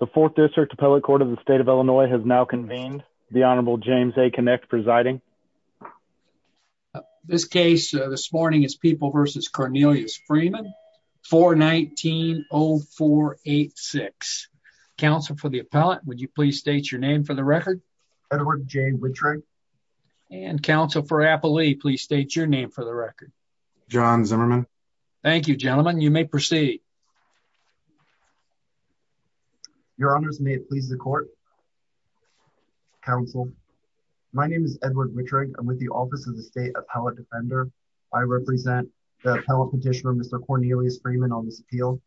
The fourth district appellate court of the state of Illinois has now convened. The Honorable James A. Kinect presiding. This case this morning is People v. Cornelius Freeman, 419-0486. Counsel for the appellate, would you please state your name for the record? Edward J. Wintrigue. And counsel for appellee, please state your name for the record. John Zimmerman. Thank you, gentlemen. You may proceed. Edward Wintrigue Your Honors, may it please the court, counsel. My name is Edward Wintrigue. I'm with the Office of the State Appellate Defender. I represent the appellate petitioner, Mr. Cornelius Freeman, on this appeal.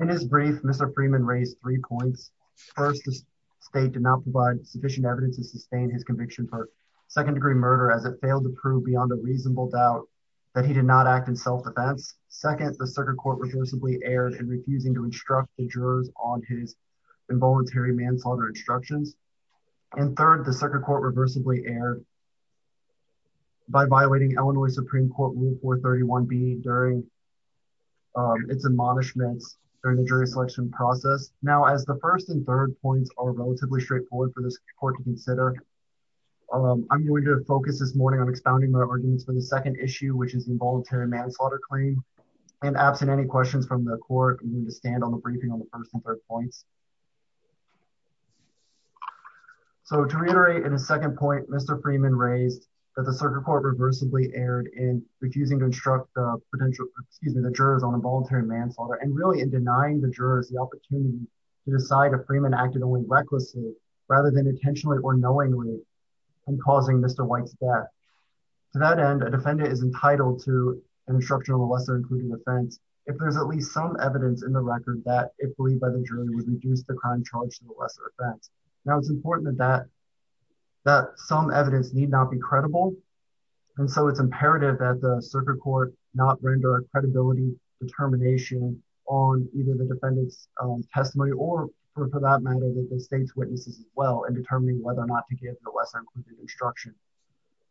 In his brief, Mr. Freeman raised three points. First, the state did not provide sufficient evidence to sustain his conviction for second degree murder as it failed to prove beyond a reasonable doubt that he did not act in self-defense. Second, the circuit court reversibly erred in refusing to instruct the jurors on his involuntary manslaughter instructions. And third, the circuit court reversibly erred by violating Illinois Supreme Court Rule 431B during its admonishments during the jury selection process. Now, as the first and third points are relatively straightforward for this court to consider, I'm going to focus this morning on expounding my arguments for the second issue, which is the involuntary manslaughter claim. And absent any questions from the court, I'm going to stand on the briefing on the first and third points. So to reiterate in the second point, Mr. Freeman raised that the circuit court reversibly erred in refusing to instruct the potential, excuse me, the jurors on involuntary manslaughter and really in denying the jurors the opportunity to decide if Freeman acted only recklessly rather than intentionally or knowingly in causing Mr. White's death. To that end, a defendant is entitled to an instruction on the lesser-included offense if there's at least some evidence in the record that it believed by the jury was reduced the crime charge to the lesser offense. Now, it's important that some evidence need not be credible. And so it's imperative that the circuit court not render a credibility determination on either the defendant's testimony or for that matter, the state's witnesses as well in determining whether or not to give the lesser-included instruction.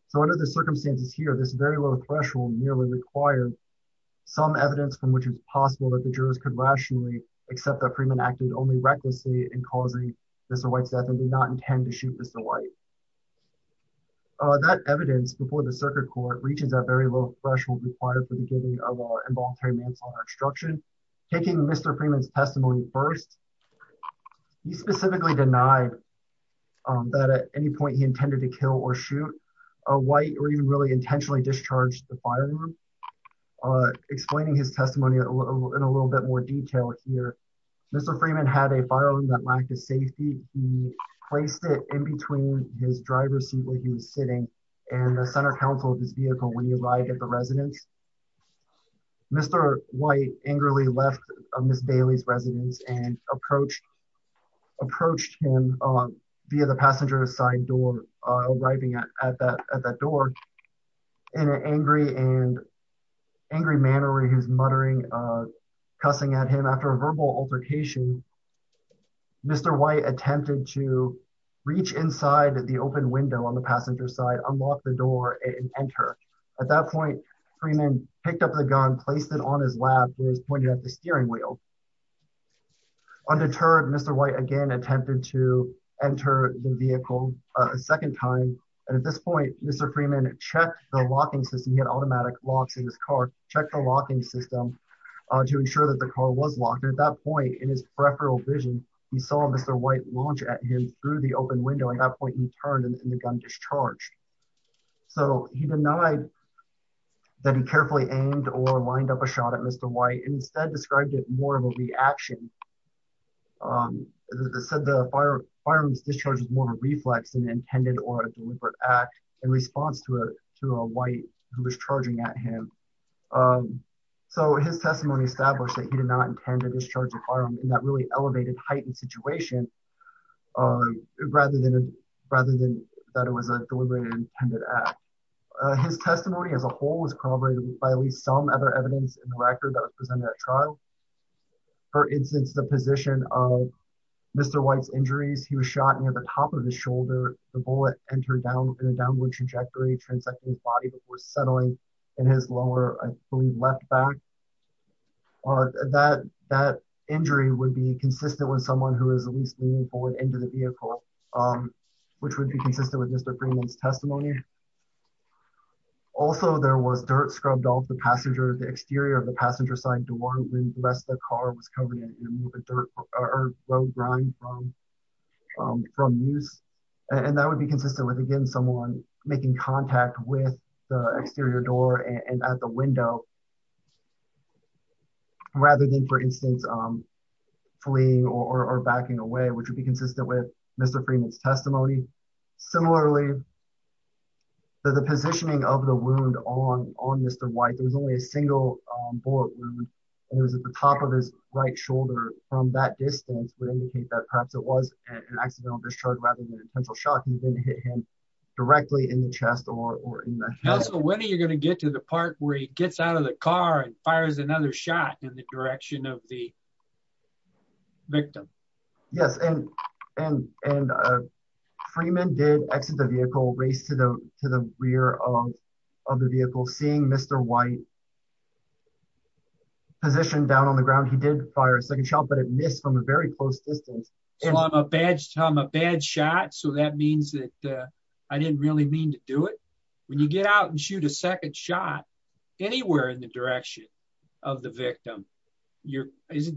So under the circumstances here, this very low threshold nearly required some evidence from which it's possible that the jurors could rationally accept that Freeman acted only recklessly in causing Mr. White's death and did not intend to shoot Mr. White. That evidence before the circuit court reaches that very low threshold required for the giving of involuntary manslaughter instruction, taking Mr. Freeman's testimony first, he specifically denied that at any point he intended to kill or shoot a White or even really intentionally discharged the firearm. Explaining his testimony in a little bit more detail here, Mr. Freeman had a firearm that lacked a safety. He placed it in between his driver's seat where he was sitting and the center council of his vehicle when he arrived at the residence. Mr. White angrily left Ms. Bailey's residence and approached him via the passenger side door arriving at that door in an angry manner where he was muttering, cussing at him. After a verbal altercation, Mr. White attempted to reach inside the open window on the passenger side, unlock the door and enter. At that point, Freeman picked up the gun, placed it on his lap where he was pointed at the steering wheel. Undeterred, Mr. White again attempted to enter the vehicle a second time. And at this point, Mr. Freeman checked the locking system. He had automatic locks in his car, checked the locking system to ensure that the car was locked. At that point in his peripheral vision, he saw Mr. White launch at him through the open window. At that point, he turned and the gun discharged. So he denied that he carefully aimed or lined up a shot at Mr. White and instead described it more of a reaction, said the firearm's discharge was more of a reflex than intended or a deliberate act in response to a white who was charging at him. So his testimony established that he did not intend to discharge a firearm in that really an intended act. His testimony as a whole was corroborated by at least some other evidence in the record that was presented at trial. For instance, the position of Mr. White's injuries, he was shot near the top of the shoulder. The bullet entered down in a downward trajectory, transecting his body before settling in his lower, I believe, left back. That injury would be consistent with someone who is at least meaningful and into the vehicle, which would be consistent with Mr. Freeman's testimony. Also there was dirt scrubbed off the exterior of the passenger side door when the rest of the car was covered in it to remove the dirt or road grime from use. And that would be consistent with, again, someone making contact with the exterior door and at the window rather than, for instance, fleeing or backing away, which would be consistent with Mr. Freeman's testimony. Similarly, the positioning of the wound on Mr. White, there was only a single bullet wound and it was at the top of his right shoulder. From that distance would indicate that perhaps it was an accidental discharge rather than an intentional shot. He didn't hit him directly in the chest or in the head. So when are you going to get to the part where he gets out of the car and fires another shot in the direction of the victim? Yes, and Freeman did exit the vehicle, race to the rear of the vehicle, seeing Mr. White positioned down on the ground. He did fire a second shot, but it missed from a very close distance. So I'm a bad shot, so that means that I didn't really mean to do it? When you get out and shoot a second shot anywhere in the direction of the victim,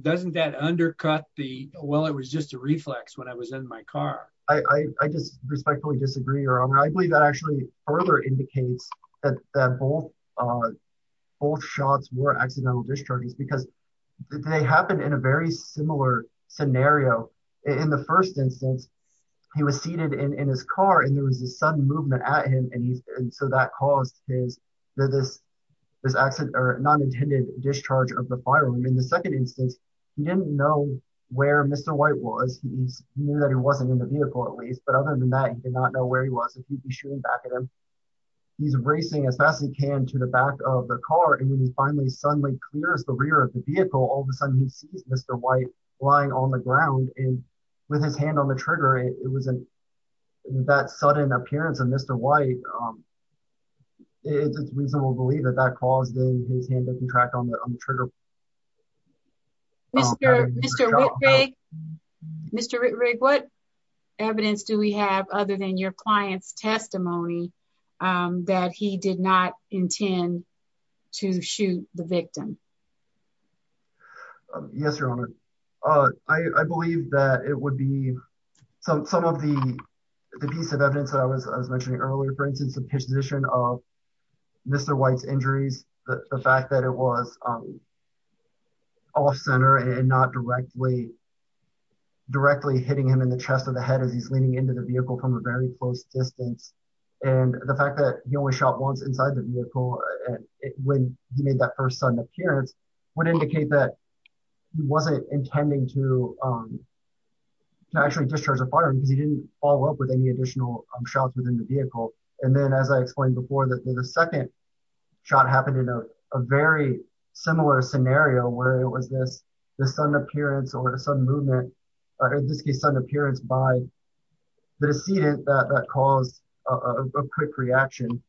doesn't that undercut the, well, it was just a reflex when I was in my car? I just respectfully disagree, Your Honor. I believe that actually further indicates that both shots were accidental discharges because they happened in a very similar scenario. In the first instance, he was seated in his car and there was a sudden movement at him and so that caused his non-intended discharge of the firearm. In the second instance, he didn't know where Mr. White was. He knew that he wasn't in the vehicle at least, but other than that, he did not know where he was and he'd be shooting back at him. He's racing as fast as he can to the back of the car and when he finally suddenly clears the rear of the vehicle, all of a sudden he sees Mr. White lying on the ground and with his hand on the trigger, it was that sudden appearance of Mr. White. It's just reasonable to believe that that caused his hand to contract on the trigger. Mr. Rittrig, what evidence do we have other than your client's testimony that he did not intend to shoot the victim? Yes, Your Honor. I believe that it would be some of the piece of evidence that I was mentioning earlier. For instance, the position of Mr. White's injuries, the fact that it was off-center and not directly hitting him in the chest or the head as he's leaning into the vehicle from a very close distance and the fact that he only shot once inside the vehicle when he made that first sudden appearance would indicate that he wasn't intending to actually discharge a firearm because he didn't follow up with any additional shots within the vehicle. And then as I explained before, the second shot happened in a very similar scenario where it was this sudden appearance or a sudden movement, or in this case sudden appearance by the decedent that caused a quick reaction.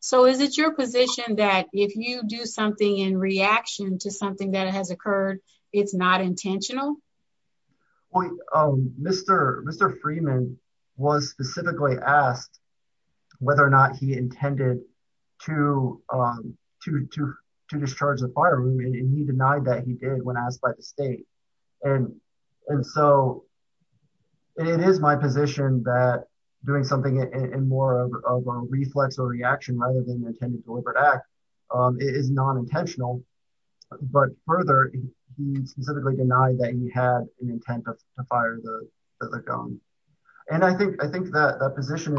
So is it your position that if you do something in reaction to something that has occurred, it's not intentional? Mr. Freeman was specifically asked whether or not he intended to discharge the firearm and he denied that he did when asked by the state. And so it is my position that doing something in more of a reflex or reaction rather than an intended deliberate act is non-intentional. But further, he specifically denied that he had an intent to fire the gun. And I think that position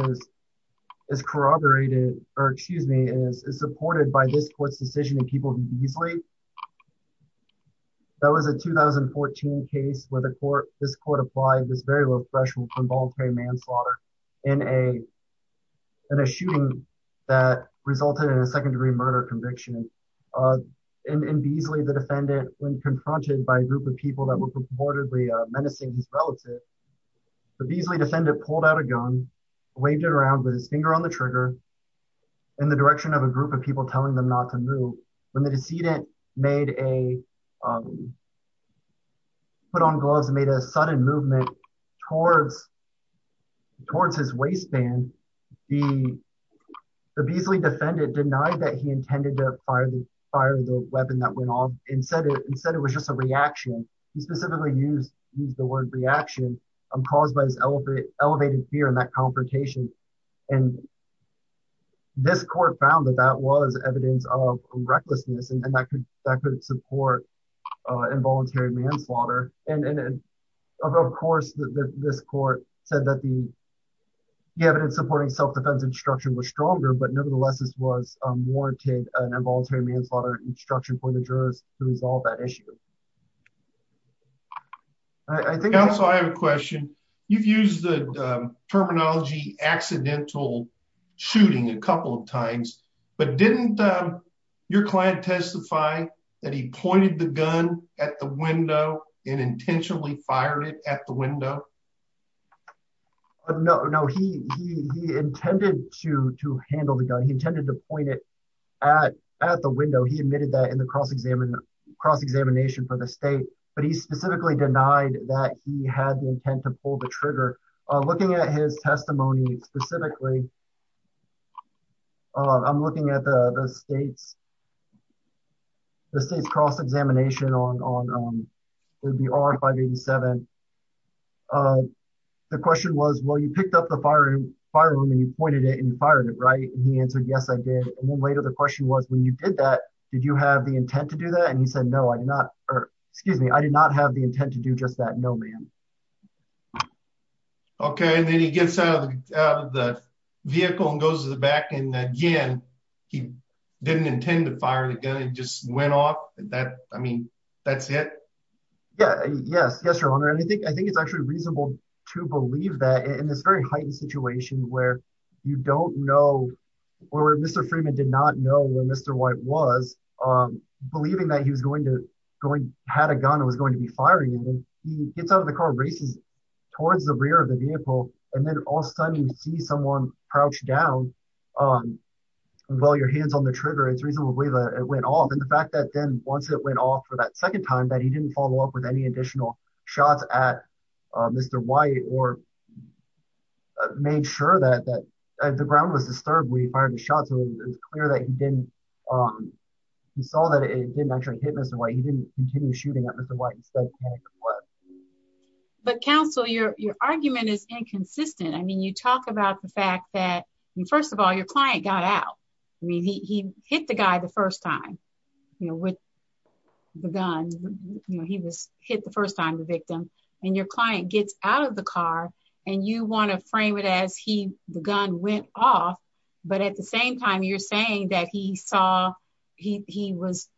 is corroborated, or excuse me, is supported by this court's decision in Peoples v. Beasley. That was a 2014 case where this court applied this very low threshold for involuntary manslaughter in a shooting that resulted in a second-degree murder conviction. In Beasley, the defendant, when confronted by a group of people that were purportedly menacing his relative, the Beasley defendant pulled out a gun, waved it around with his finger on the trigger in the direction of a group of people telling them not to move. When the decedent put on gloves and made a sudden movement towards his waistband, the Beasley defendant denied that he intended to fire the weapon that went off and said it was just a reaction. He specifically used the word reaction caused by his elevated fear and that confrontation. And this court found that that was evidence of recklessness and that could support involuntary manslaughter. And of course, this court said that the evidence supporting self-defense instruction was stronger, but nevertheless, this was warranted an involuntary manslaughter instruction for the jurors to resolve that issue. Counsel, I have a question. You've used the terminology accidental shooting a couple of times, but didn't your client testify that he pointed the gun at the window and intentionally fired it at the window? No, he intended to handle the gun. He intended to point it at the window. He admitted that in the cross-examination for the state, but he specifically denied that he had the intent to pull the trigger. Looking at his testimony specifically, I'm looking at the state's cross-examination on the R-587. The question was, well, you picked up the firearm and you pointed it and you fired it, right? And he answered, yes, I did. And then later the question was, when you did that, did you have the intent to do that? And he said, no, I did not. Excuse me, I did not have the intent to do just that. No, ma'am. Okay. And then he gets out of the vehicle and goes to the back and again, he didn't intend to fire the gun. It just went off. I mean, that's it? Yeah, yes. Yes, Your Honor. And I think it's actually reasonable to believe that in this very heightened situation where Mr. Freeman did not know where Mr. White was, believing that he had a gun and was going to be firing it, he gets out of the car, races towards the rear of the vehicle, and then all of a sudden you see someone crouch down while your hand's on the trigger. It's reasonable to believe that it went off. And the fact that then once it went off for that second time, that he didn't follow up with any additional shots at Mr. White or made sure that the ground was disturbed when he fired the shot, so it's clear that he saw that it didn't actually hit Mr. White. He didn't continue shooting at Mr. White. But counsel, your argument is inconsistent. I mean, you talk about the fact that, first of all, your client got out. I mean, he hit the guy the first time with the gun. He was hit the first time, the victim. And your client gets out of the car, and you want to frame it as the gun went off, but at the same time, you're saying that he was,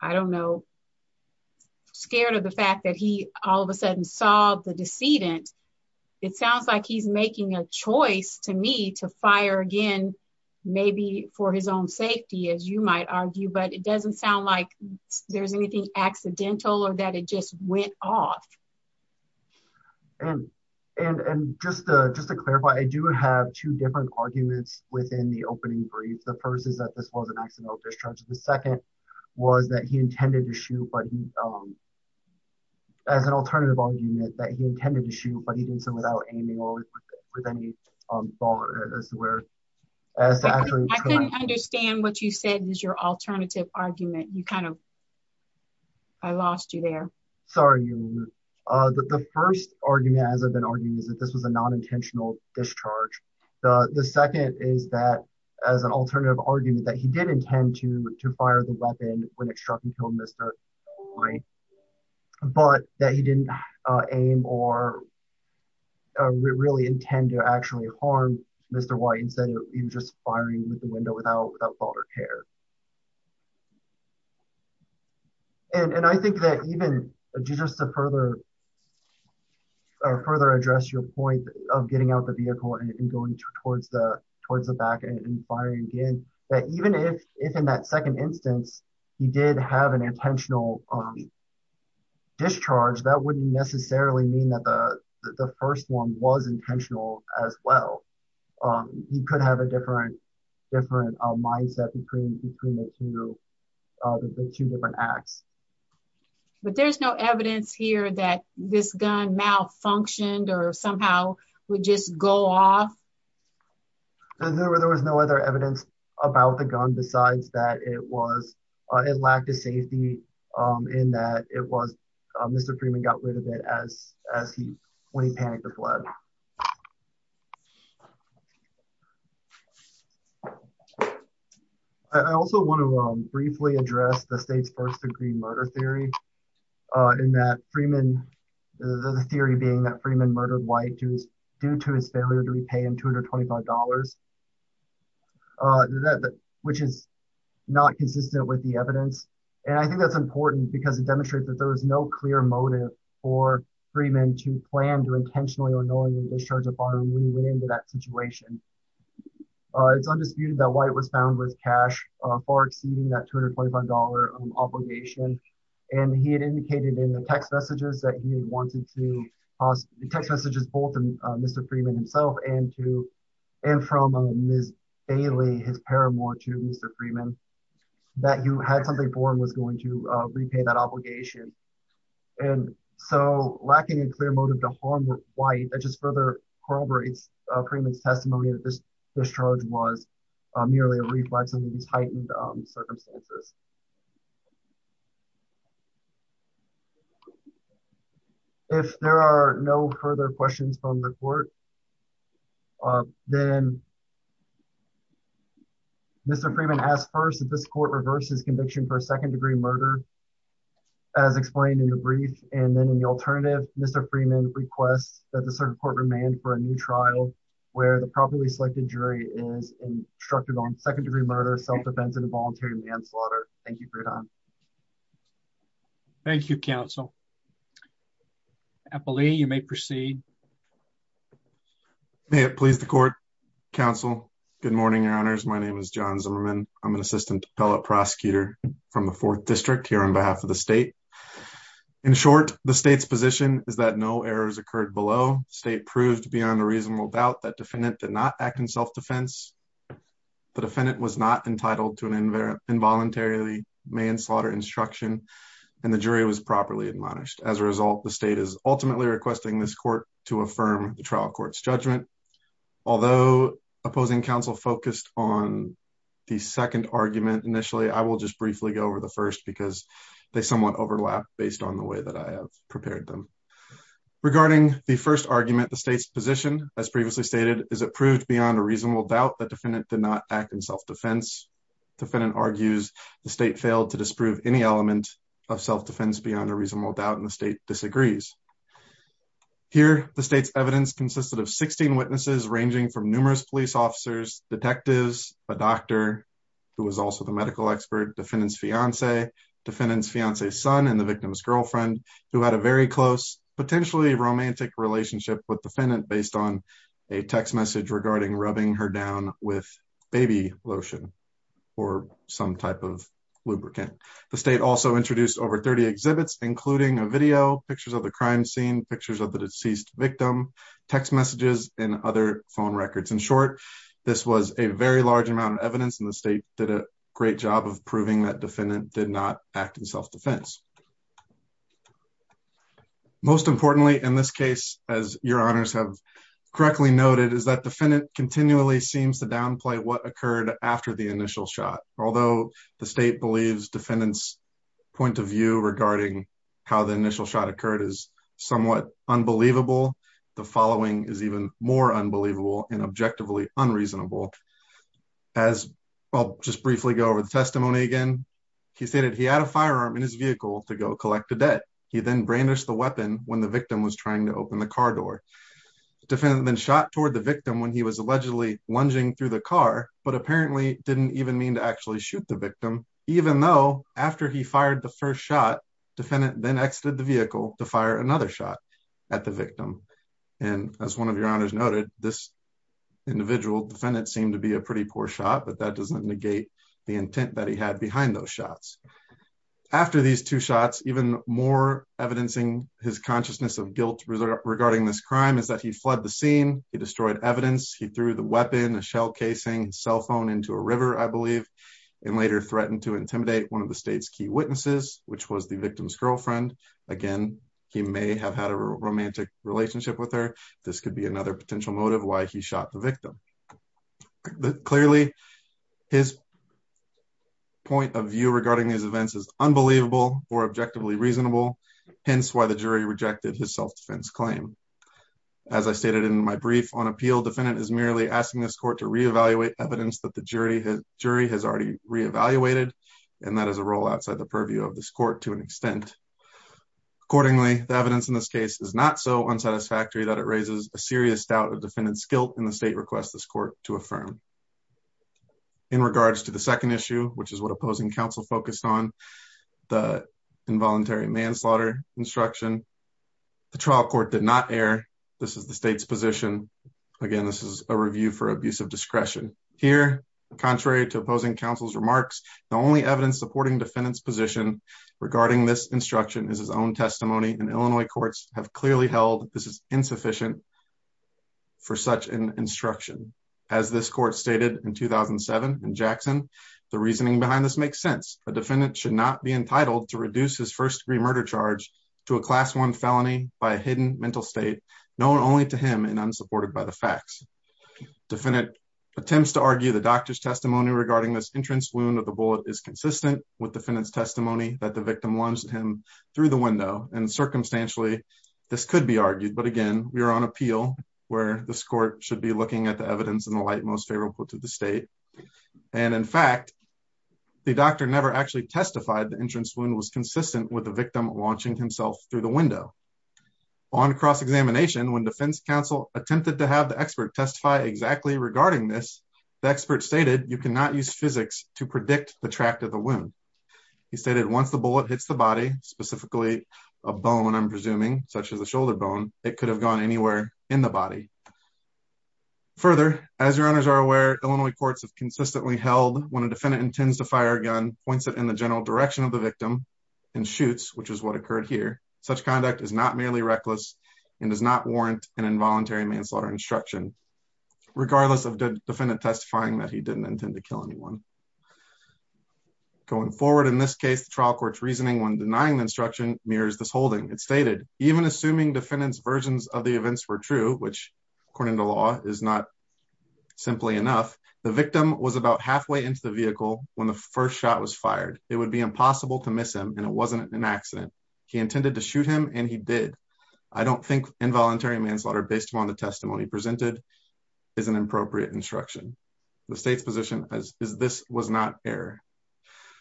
I don't know, scared of the fact that he all of a sudden saw the decedent. It sounds like he's making a choice, to me, to fire again, maybe for his own safety, as you might argue, but it doesn't sound like there's anything accidental or that it just went off. And just to clarify, I do have two different arguments within the opening brief. The first is that this was an accidental discharge. The second was that he intended to shoot, but he, as an alternative argument, that he intended to shoot, but he did so without aiming or with any ball or elsewhere. I couldn't understand what you said was your alternative argument. You kind of, I lost you there. Sorry. The first argument, as I've been arguing, is that this was a non-intentional discharge. The second is that, as an alternative argument, that he did intend to fire the weapon when it struck and killed Mr. White, but that he didn't aim or really intend to actually harm Mr. White. Instead, he was just firing with the window without thought or care. And I think that even just to further address your point of getting out the vehicle and going towards the back and firing again, that even if, in that second instance, he did have an intentional discharge, that wouldn't necessarily mean that the first one was intentional as well. He could have a different mindset between the two different acts. But there's no evidence here that this gun malfunctioned or somehow would just go off? There was no other evidence about the gun besides that it lacked a safety in that Mr. Freeman got rid of it when he panicked and fled. I also want to briefly address the state's first-degree murder theory, the theory being that Freeman murdered White due to his failure to repay him $225, which is not consistent with the evidence. And I think that's important because it demonstrates that there was no clear motive for Freeman to plan to intentionally or knowingly discharge a firearm when he went into that situation. It's undisputed that White was found with cash far exceeding that $225 obligation. And he had indicated in the text messages that he had wanted to – the text messages both from Mr. Freeman himself and from Ms. Bailey, his paramour, to Mr. Freeman, that he had something for him and was going to repay that obligation. And so lacking a clear motive to harm White, that just further corroborates Freeman's testimony that this discharge was merely a reflex in these heightened circumstances. If there are no further questions from the court, then Mr. Freeman asked first if this has explained in the brief. And then in the alternative, Mr. Freeman requests that the circuit court remand for a new trial where the properly selected jury is instructed on second-degree murder, self-defense, and involuntary manslaughter. Thank you for your time. Thank you, counsel. Appellee, you may proceed. May it please the court, counsel. Good morning, your honors. My name is John Zimmerman. I'm an assistant appellate prosecutor from the Fourth District here on behalf of the state. In short, the state's position is that no errors occurred below. The state proved beyond a reasonable doubt that the defendant did not act in self-defense. The defendant was not entitled to an involuntary manslaughter instruction, and the jury was properly admonished. As a result, the state is ultimately requesting this court to affirm the trial court's judgment. Although opposing counsel focused on the second argument initially, I will just briefly go over the first because they somewhat overlap based on the way that I have prepared them. Regarding the first argument, the state's position, as previously stated, is it proved beyond a reasonable doubt that defendant did not act in self-defense. Defendant argues the state failed to disprove any element of self-defense beyond a reasonable doubt, and the state disagrees. Here, the state's evidence consisted of 16 witnesses ranging from numerous police officers, detectives, a doctor who was also the medical expert, defendant's fiance, defendant's fiance's son, and the victim's girlfriend, who had a very close, potentially romantic relationship with defendant based on a text message regarding rubbing her down with baby lotion or some type of lubricant. The state also introduced over 30 exhibits, including a video, pictures of the crime scene, pictures of the deceased victim, text messages, and other phone records. In short, this was a very large amount of evidence, and the state did a great job of proving that defendant did not act in self-defense. Most importantly, in this case, as your honors have correctly noted, is that defendant continually seems to downplay what occurred after the initial shot. Although the state believes defendant's point of view regarding how the initial shot occurred is somewhat unbelievable, the following is even more unbelievable and objectively unreasonable. I'll just briefly go over the testimony again. He stated he had a firearm in his vehicle to go collect the debt. He then brandished the weapon when the victim was trying to open the car door. Defendant then shot toward the victim when he was allegedly lunging through the car, but apparently didn't even mean to actually shoot the victim, even though after he fired the first shot, defendant then exited the vehicle to fire another shot at the victim. And as one of your honors noted, this individual defendant seemed to be a pretty poor shot, but that doesn't negate the intent that he had behind those shots. After these two shots, even more evidencing his consciousness of guilt regarding this crime is that he fled the scene. He destroyed evidence. He threw the weapon, a shell casing, cell phone into a river, I believe, and later threatened to intimidate one of the state's key witnesses, which was the victim's girlfriend. Again, he may have had a romantic relationship with her. This could be another potential motive why he shot the victim. Clearly, his point of view regarding these events is unbelievable or objectively reasonable, hence why the jury rejected his self-defense claim. As I stated in my brief on appeal, defendant is merely asking this court to re-evaluate evidence that the jury has already re-evaluated, and that is a role outside the purview of this court to an extent. Accordingly, the evidence in this case is not so unsatisfactory that it raises a serious doubt of defendant's guilt, and the state requests this court to affirm. In regards to the second issue, which is what opposing counsel focused on, the involuntary manslaughter instruction, the trial court did not err. This is the state's position. Again, this is a review for abuse of discretion. Here, contrary to opposing counsel's remarks, the only evidence supporting defendant's position regarding this instruction is his own testimony, and Illinois courts have clearly held this is insufficient for such an instruction. As this court stated in 2007 in Jackson, the reasoning behind this makes sense. A defendant should not be entitled to reduce his first-degree murder charge to a Class I felony by a hidden mental state known only to him and unsupported by the facts. Defendant attempts to argue the doctor's testimony regarding this entrance wound of the bullet is consistent with defendant's testimony that the victim lunged him through the window, and circumstantially, this could be argued. But again, we are on appeal, where this court should be looking at the evidence in the light most favorable to the state. And in fact, the doctor never actually testified the entrance wound was consistent with the victim launching himself through the window. On cross-examination, when defense counsel attempted to have the expert testify exactly regarding this, the expert stated, you cannot use physics to predict the tract of the wound. He stated, once the bullet hits the body, specifically a bone, I'm presuming, such as a Further, as your honors are aware, Illinois courts have consistently held when a defendant intends to fire a gun, points it in the general direction of the victim, and shoots, which is what occurred here, such conduct is not merely reckless and does not warrant an involuntary manslaughter instruction, regardless of the defendant testifying that he didn't intend to kill anyone. Going forward, in this case, the trial court's reasoning when denying the instruction mirrors this holding. It stated, even assuming defendant's versions of the events were true, which according to law is not simply enough, the victim was about halfway into the vehicle when the first shot was fired. It would be impossible to miss him, and it wasn't an accident. He intended to shoot him, and he did. I don't think involuntary manslaughter based upon the testimony presented is an appropriate instruction. The state's position is this was not error.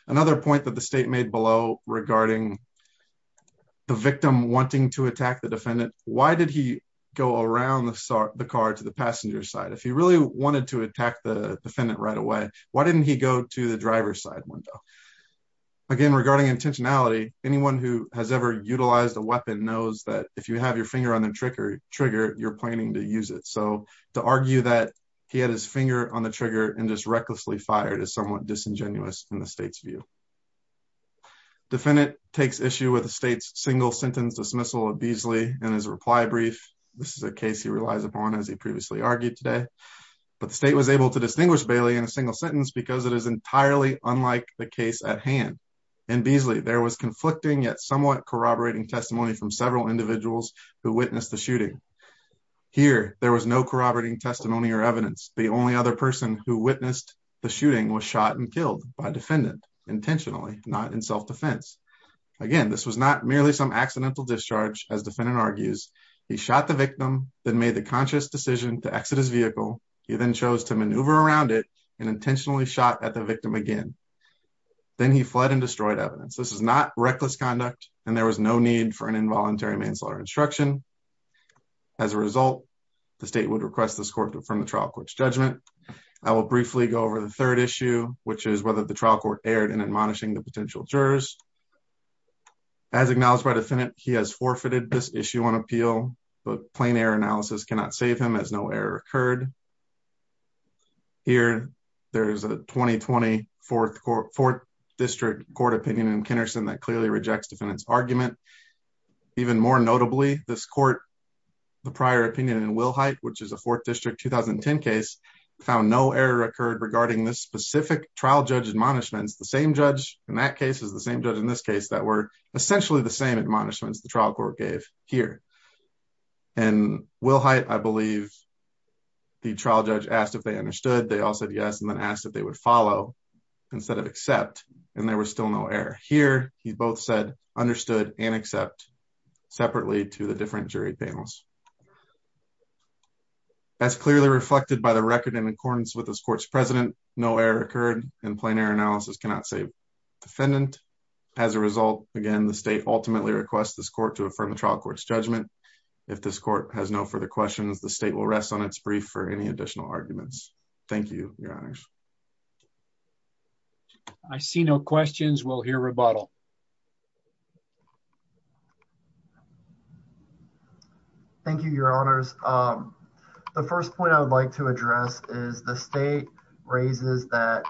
Another point that the state made below regarding the victim wanting to attack the defendant, why did he go around the car to the passenger side? If he really wanted to attack the defendant right away, why didn't he go to the driver's side window? Again, regarding intentionality, anyone who has ever utilized a weapon knows that if you have your finger on the trigger, you're planning to use it. So to argue that he had his finger on the trigger and just recklessly fired is somewhat disingenuous in the state's view. Defendant takes issue with the state's single sentence dismissal of Beasley and his reply brief. This is a case he relies upon, as he previously argued today. But the state was able to distinguish Bailey in a single sentence because it is entirely unlike the case at hand. In Beasley, there was conflicting yet somewhat corroborating testimony from several individuals who witnessed the shooting. Here, there was no corroborating testimony or evidence. The only other person who witnessed the shooting was shot and killed by defendant intentionally, not in self-defense. Again, this was not merely some accidental discharge, as defendant argues. He shot the victim, then made the conscious decision to exit his vehicle. He then chose to maneuver around it and intentionally shot at the victim again. Then he fled and destroyed evidence. This is not reckless conduct, and there was no need for an involuntary manslaughter instruction. As a result, the state would request this court to affirm the trial court's judgment. I will briefly go over the third issue, which is whether the trial court erred in admonishing the potential jurors. As acknowledged by defendant, he has forfeited this issue on appeal, but plain error analysis cannot save him, as no error occurred. Here, there is a 2020 Fourth District Court opinion in Kinnerson that clearly rejects defendant's argument. Even more notably, this court, the prior opinion in Wilhite, which is a Fourth District 2010 case, found no error occurred regarding the specific trial judge admonishments, the same judge in that case as the same judge in this case, that were essentially the same admonishments the trial court gave here. In Wilhite, I believe, the trial judge asked if they understood. They all said yes and then asked if they would follow instead of accept, and there was still no error. Here, he both said understood and accept separately to the different jury panels. As clearly reflected by the record in accordance with this court's precedent, no error occurred, and plain error analysis cannot save defendant. As a result, again, the state ultimately requests this court to affirm the trial court's judgment. If this court has no further questions, the state will rest on its brief for any additional arguments. Thank you, Your Honors. I see no questions. We'll hear rebuttal. Thank you, Your Honors. The first point I would like to address is the state raises that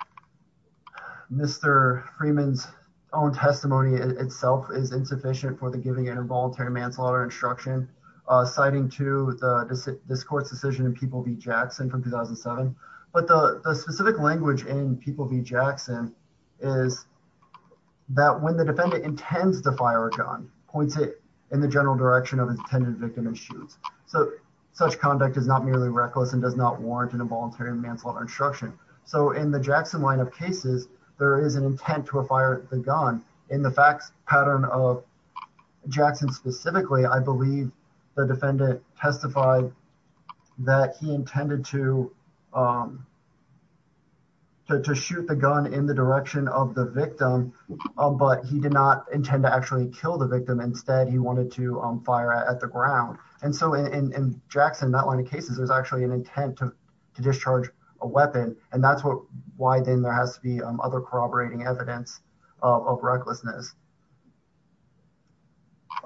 Mr. Freeman's own testimony itself is insufficient for the giving an involuntary manslaughter instruction, citing to this court's decision in People v. Jackson from 2007, but the specific language in People v. Jackson is that when the defendant intends to fire a gun, points it in the general direction of his intended victim and shoots. Such conduct is not merely reckless and does not warrant an involuntary manslaughter instruction. In the Jackson line of cases, there is an intent to fire the gun. In the facts pattern of Jackson specifically, I believe the defendant testified that he intended to shoot the gun in the direction of the victim, but he did not intend to actually kill the victim. Instead, he wanted to fire at the ground. And so in Jackson, that line of cases, there's actually an intent to discharge a weapon, and that's why then there has to be other corroborating evidence of recklessness.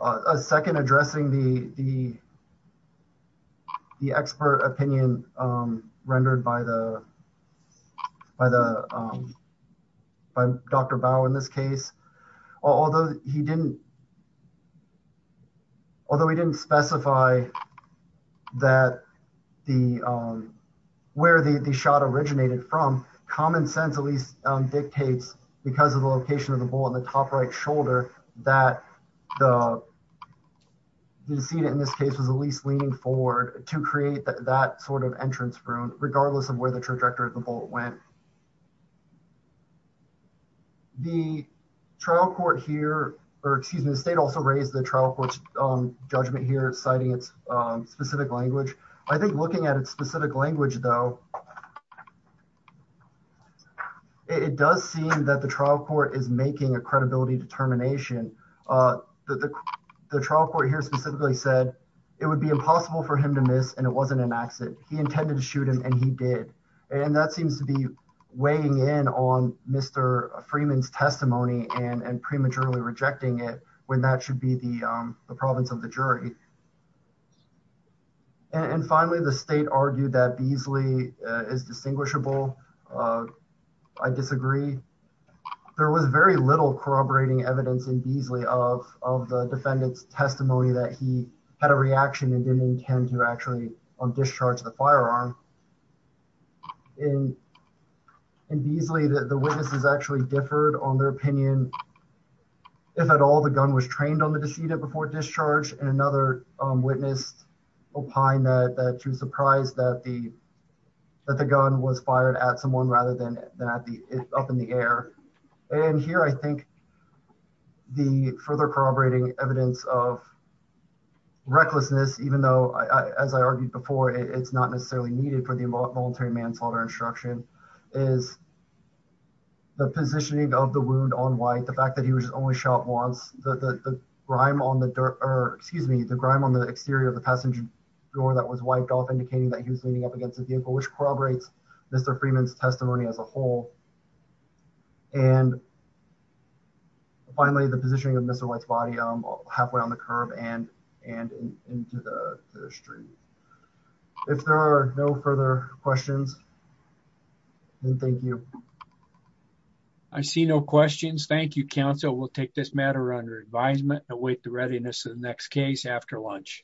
A second addressing the expert opinion rendered by Dr. Bowe in this case, although he didn't specify where the shot originated from, common sense at least dictates, because of the location of the bullet in the top right shoulder, that the decedent in this case was at least leaning forward to create that sort of entrance wound, regardless of where the trajectory of the bullet went. The trial court here, or excuse me, the state also raised the trial court's judgment here, citing its specific language. I think looking at its specific language, though, it does seem that the trial court is making a credibility determination. The trial court here specifically said it would be impossible for him to miss, and it wasn't an accident. He intended to shoot him, and he did. And that seems to be weighing in on Mr. Freeman's testimony and prematurely rejecting it when that should be the province of the jury. And finally, the state argued that Beasley is distinguishable. I disagree. There was very little corroborating evidence in Beasley of the defendant's testimony that he had a reaction and didn't intend to actually discharge the firearm. In Beasley, the witnesses actually differed on their opinion. If at all, the gun was trained on the decedent before discharge, and another witness opined that she was surprised that the gun was fired at someone rather than up in the air. And here I think the further corroborating evidence of recklessness, even though, as I argued before, it's not necessarily needed for the involuntary manslaughter instruction, is the positioning of the wound on white, the fact that he was only shot once, the grime on the exterior of the passenger door that was wiped off indicating that he was leaning up against the vehicle, which corroborates Mr. Freeman's testimony as a whole. And finally, the positioning of Mr. White's body halfway on the curb and into the street. If there are no further questions, then thank you. I see no questions. Thank you, counsel. We'll take this matter under advisement and await the readiness of the next case after lunch.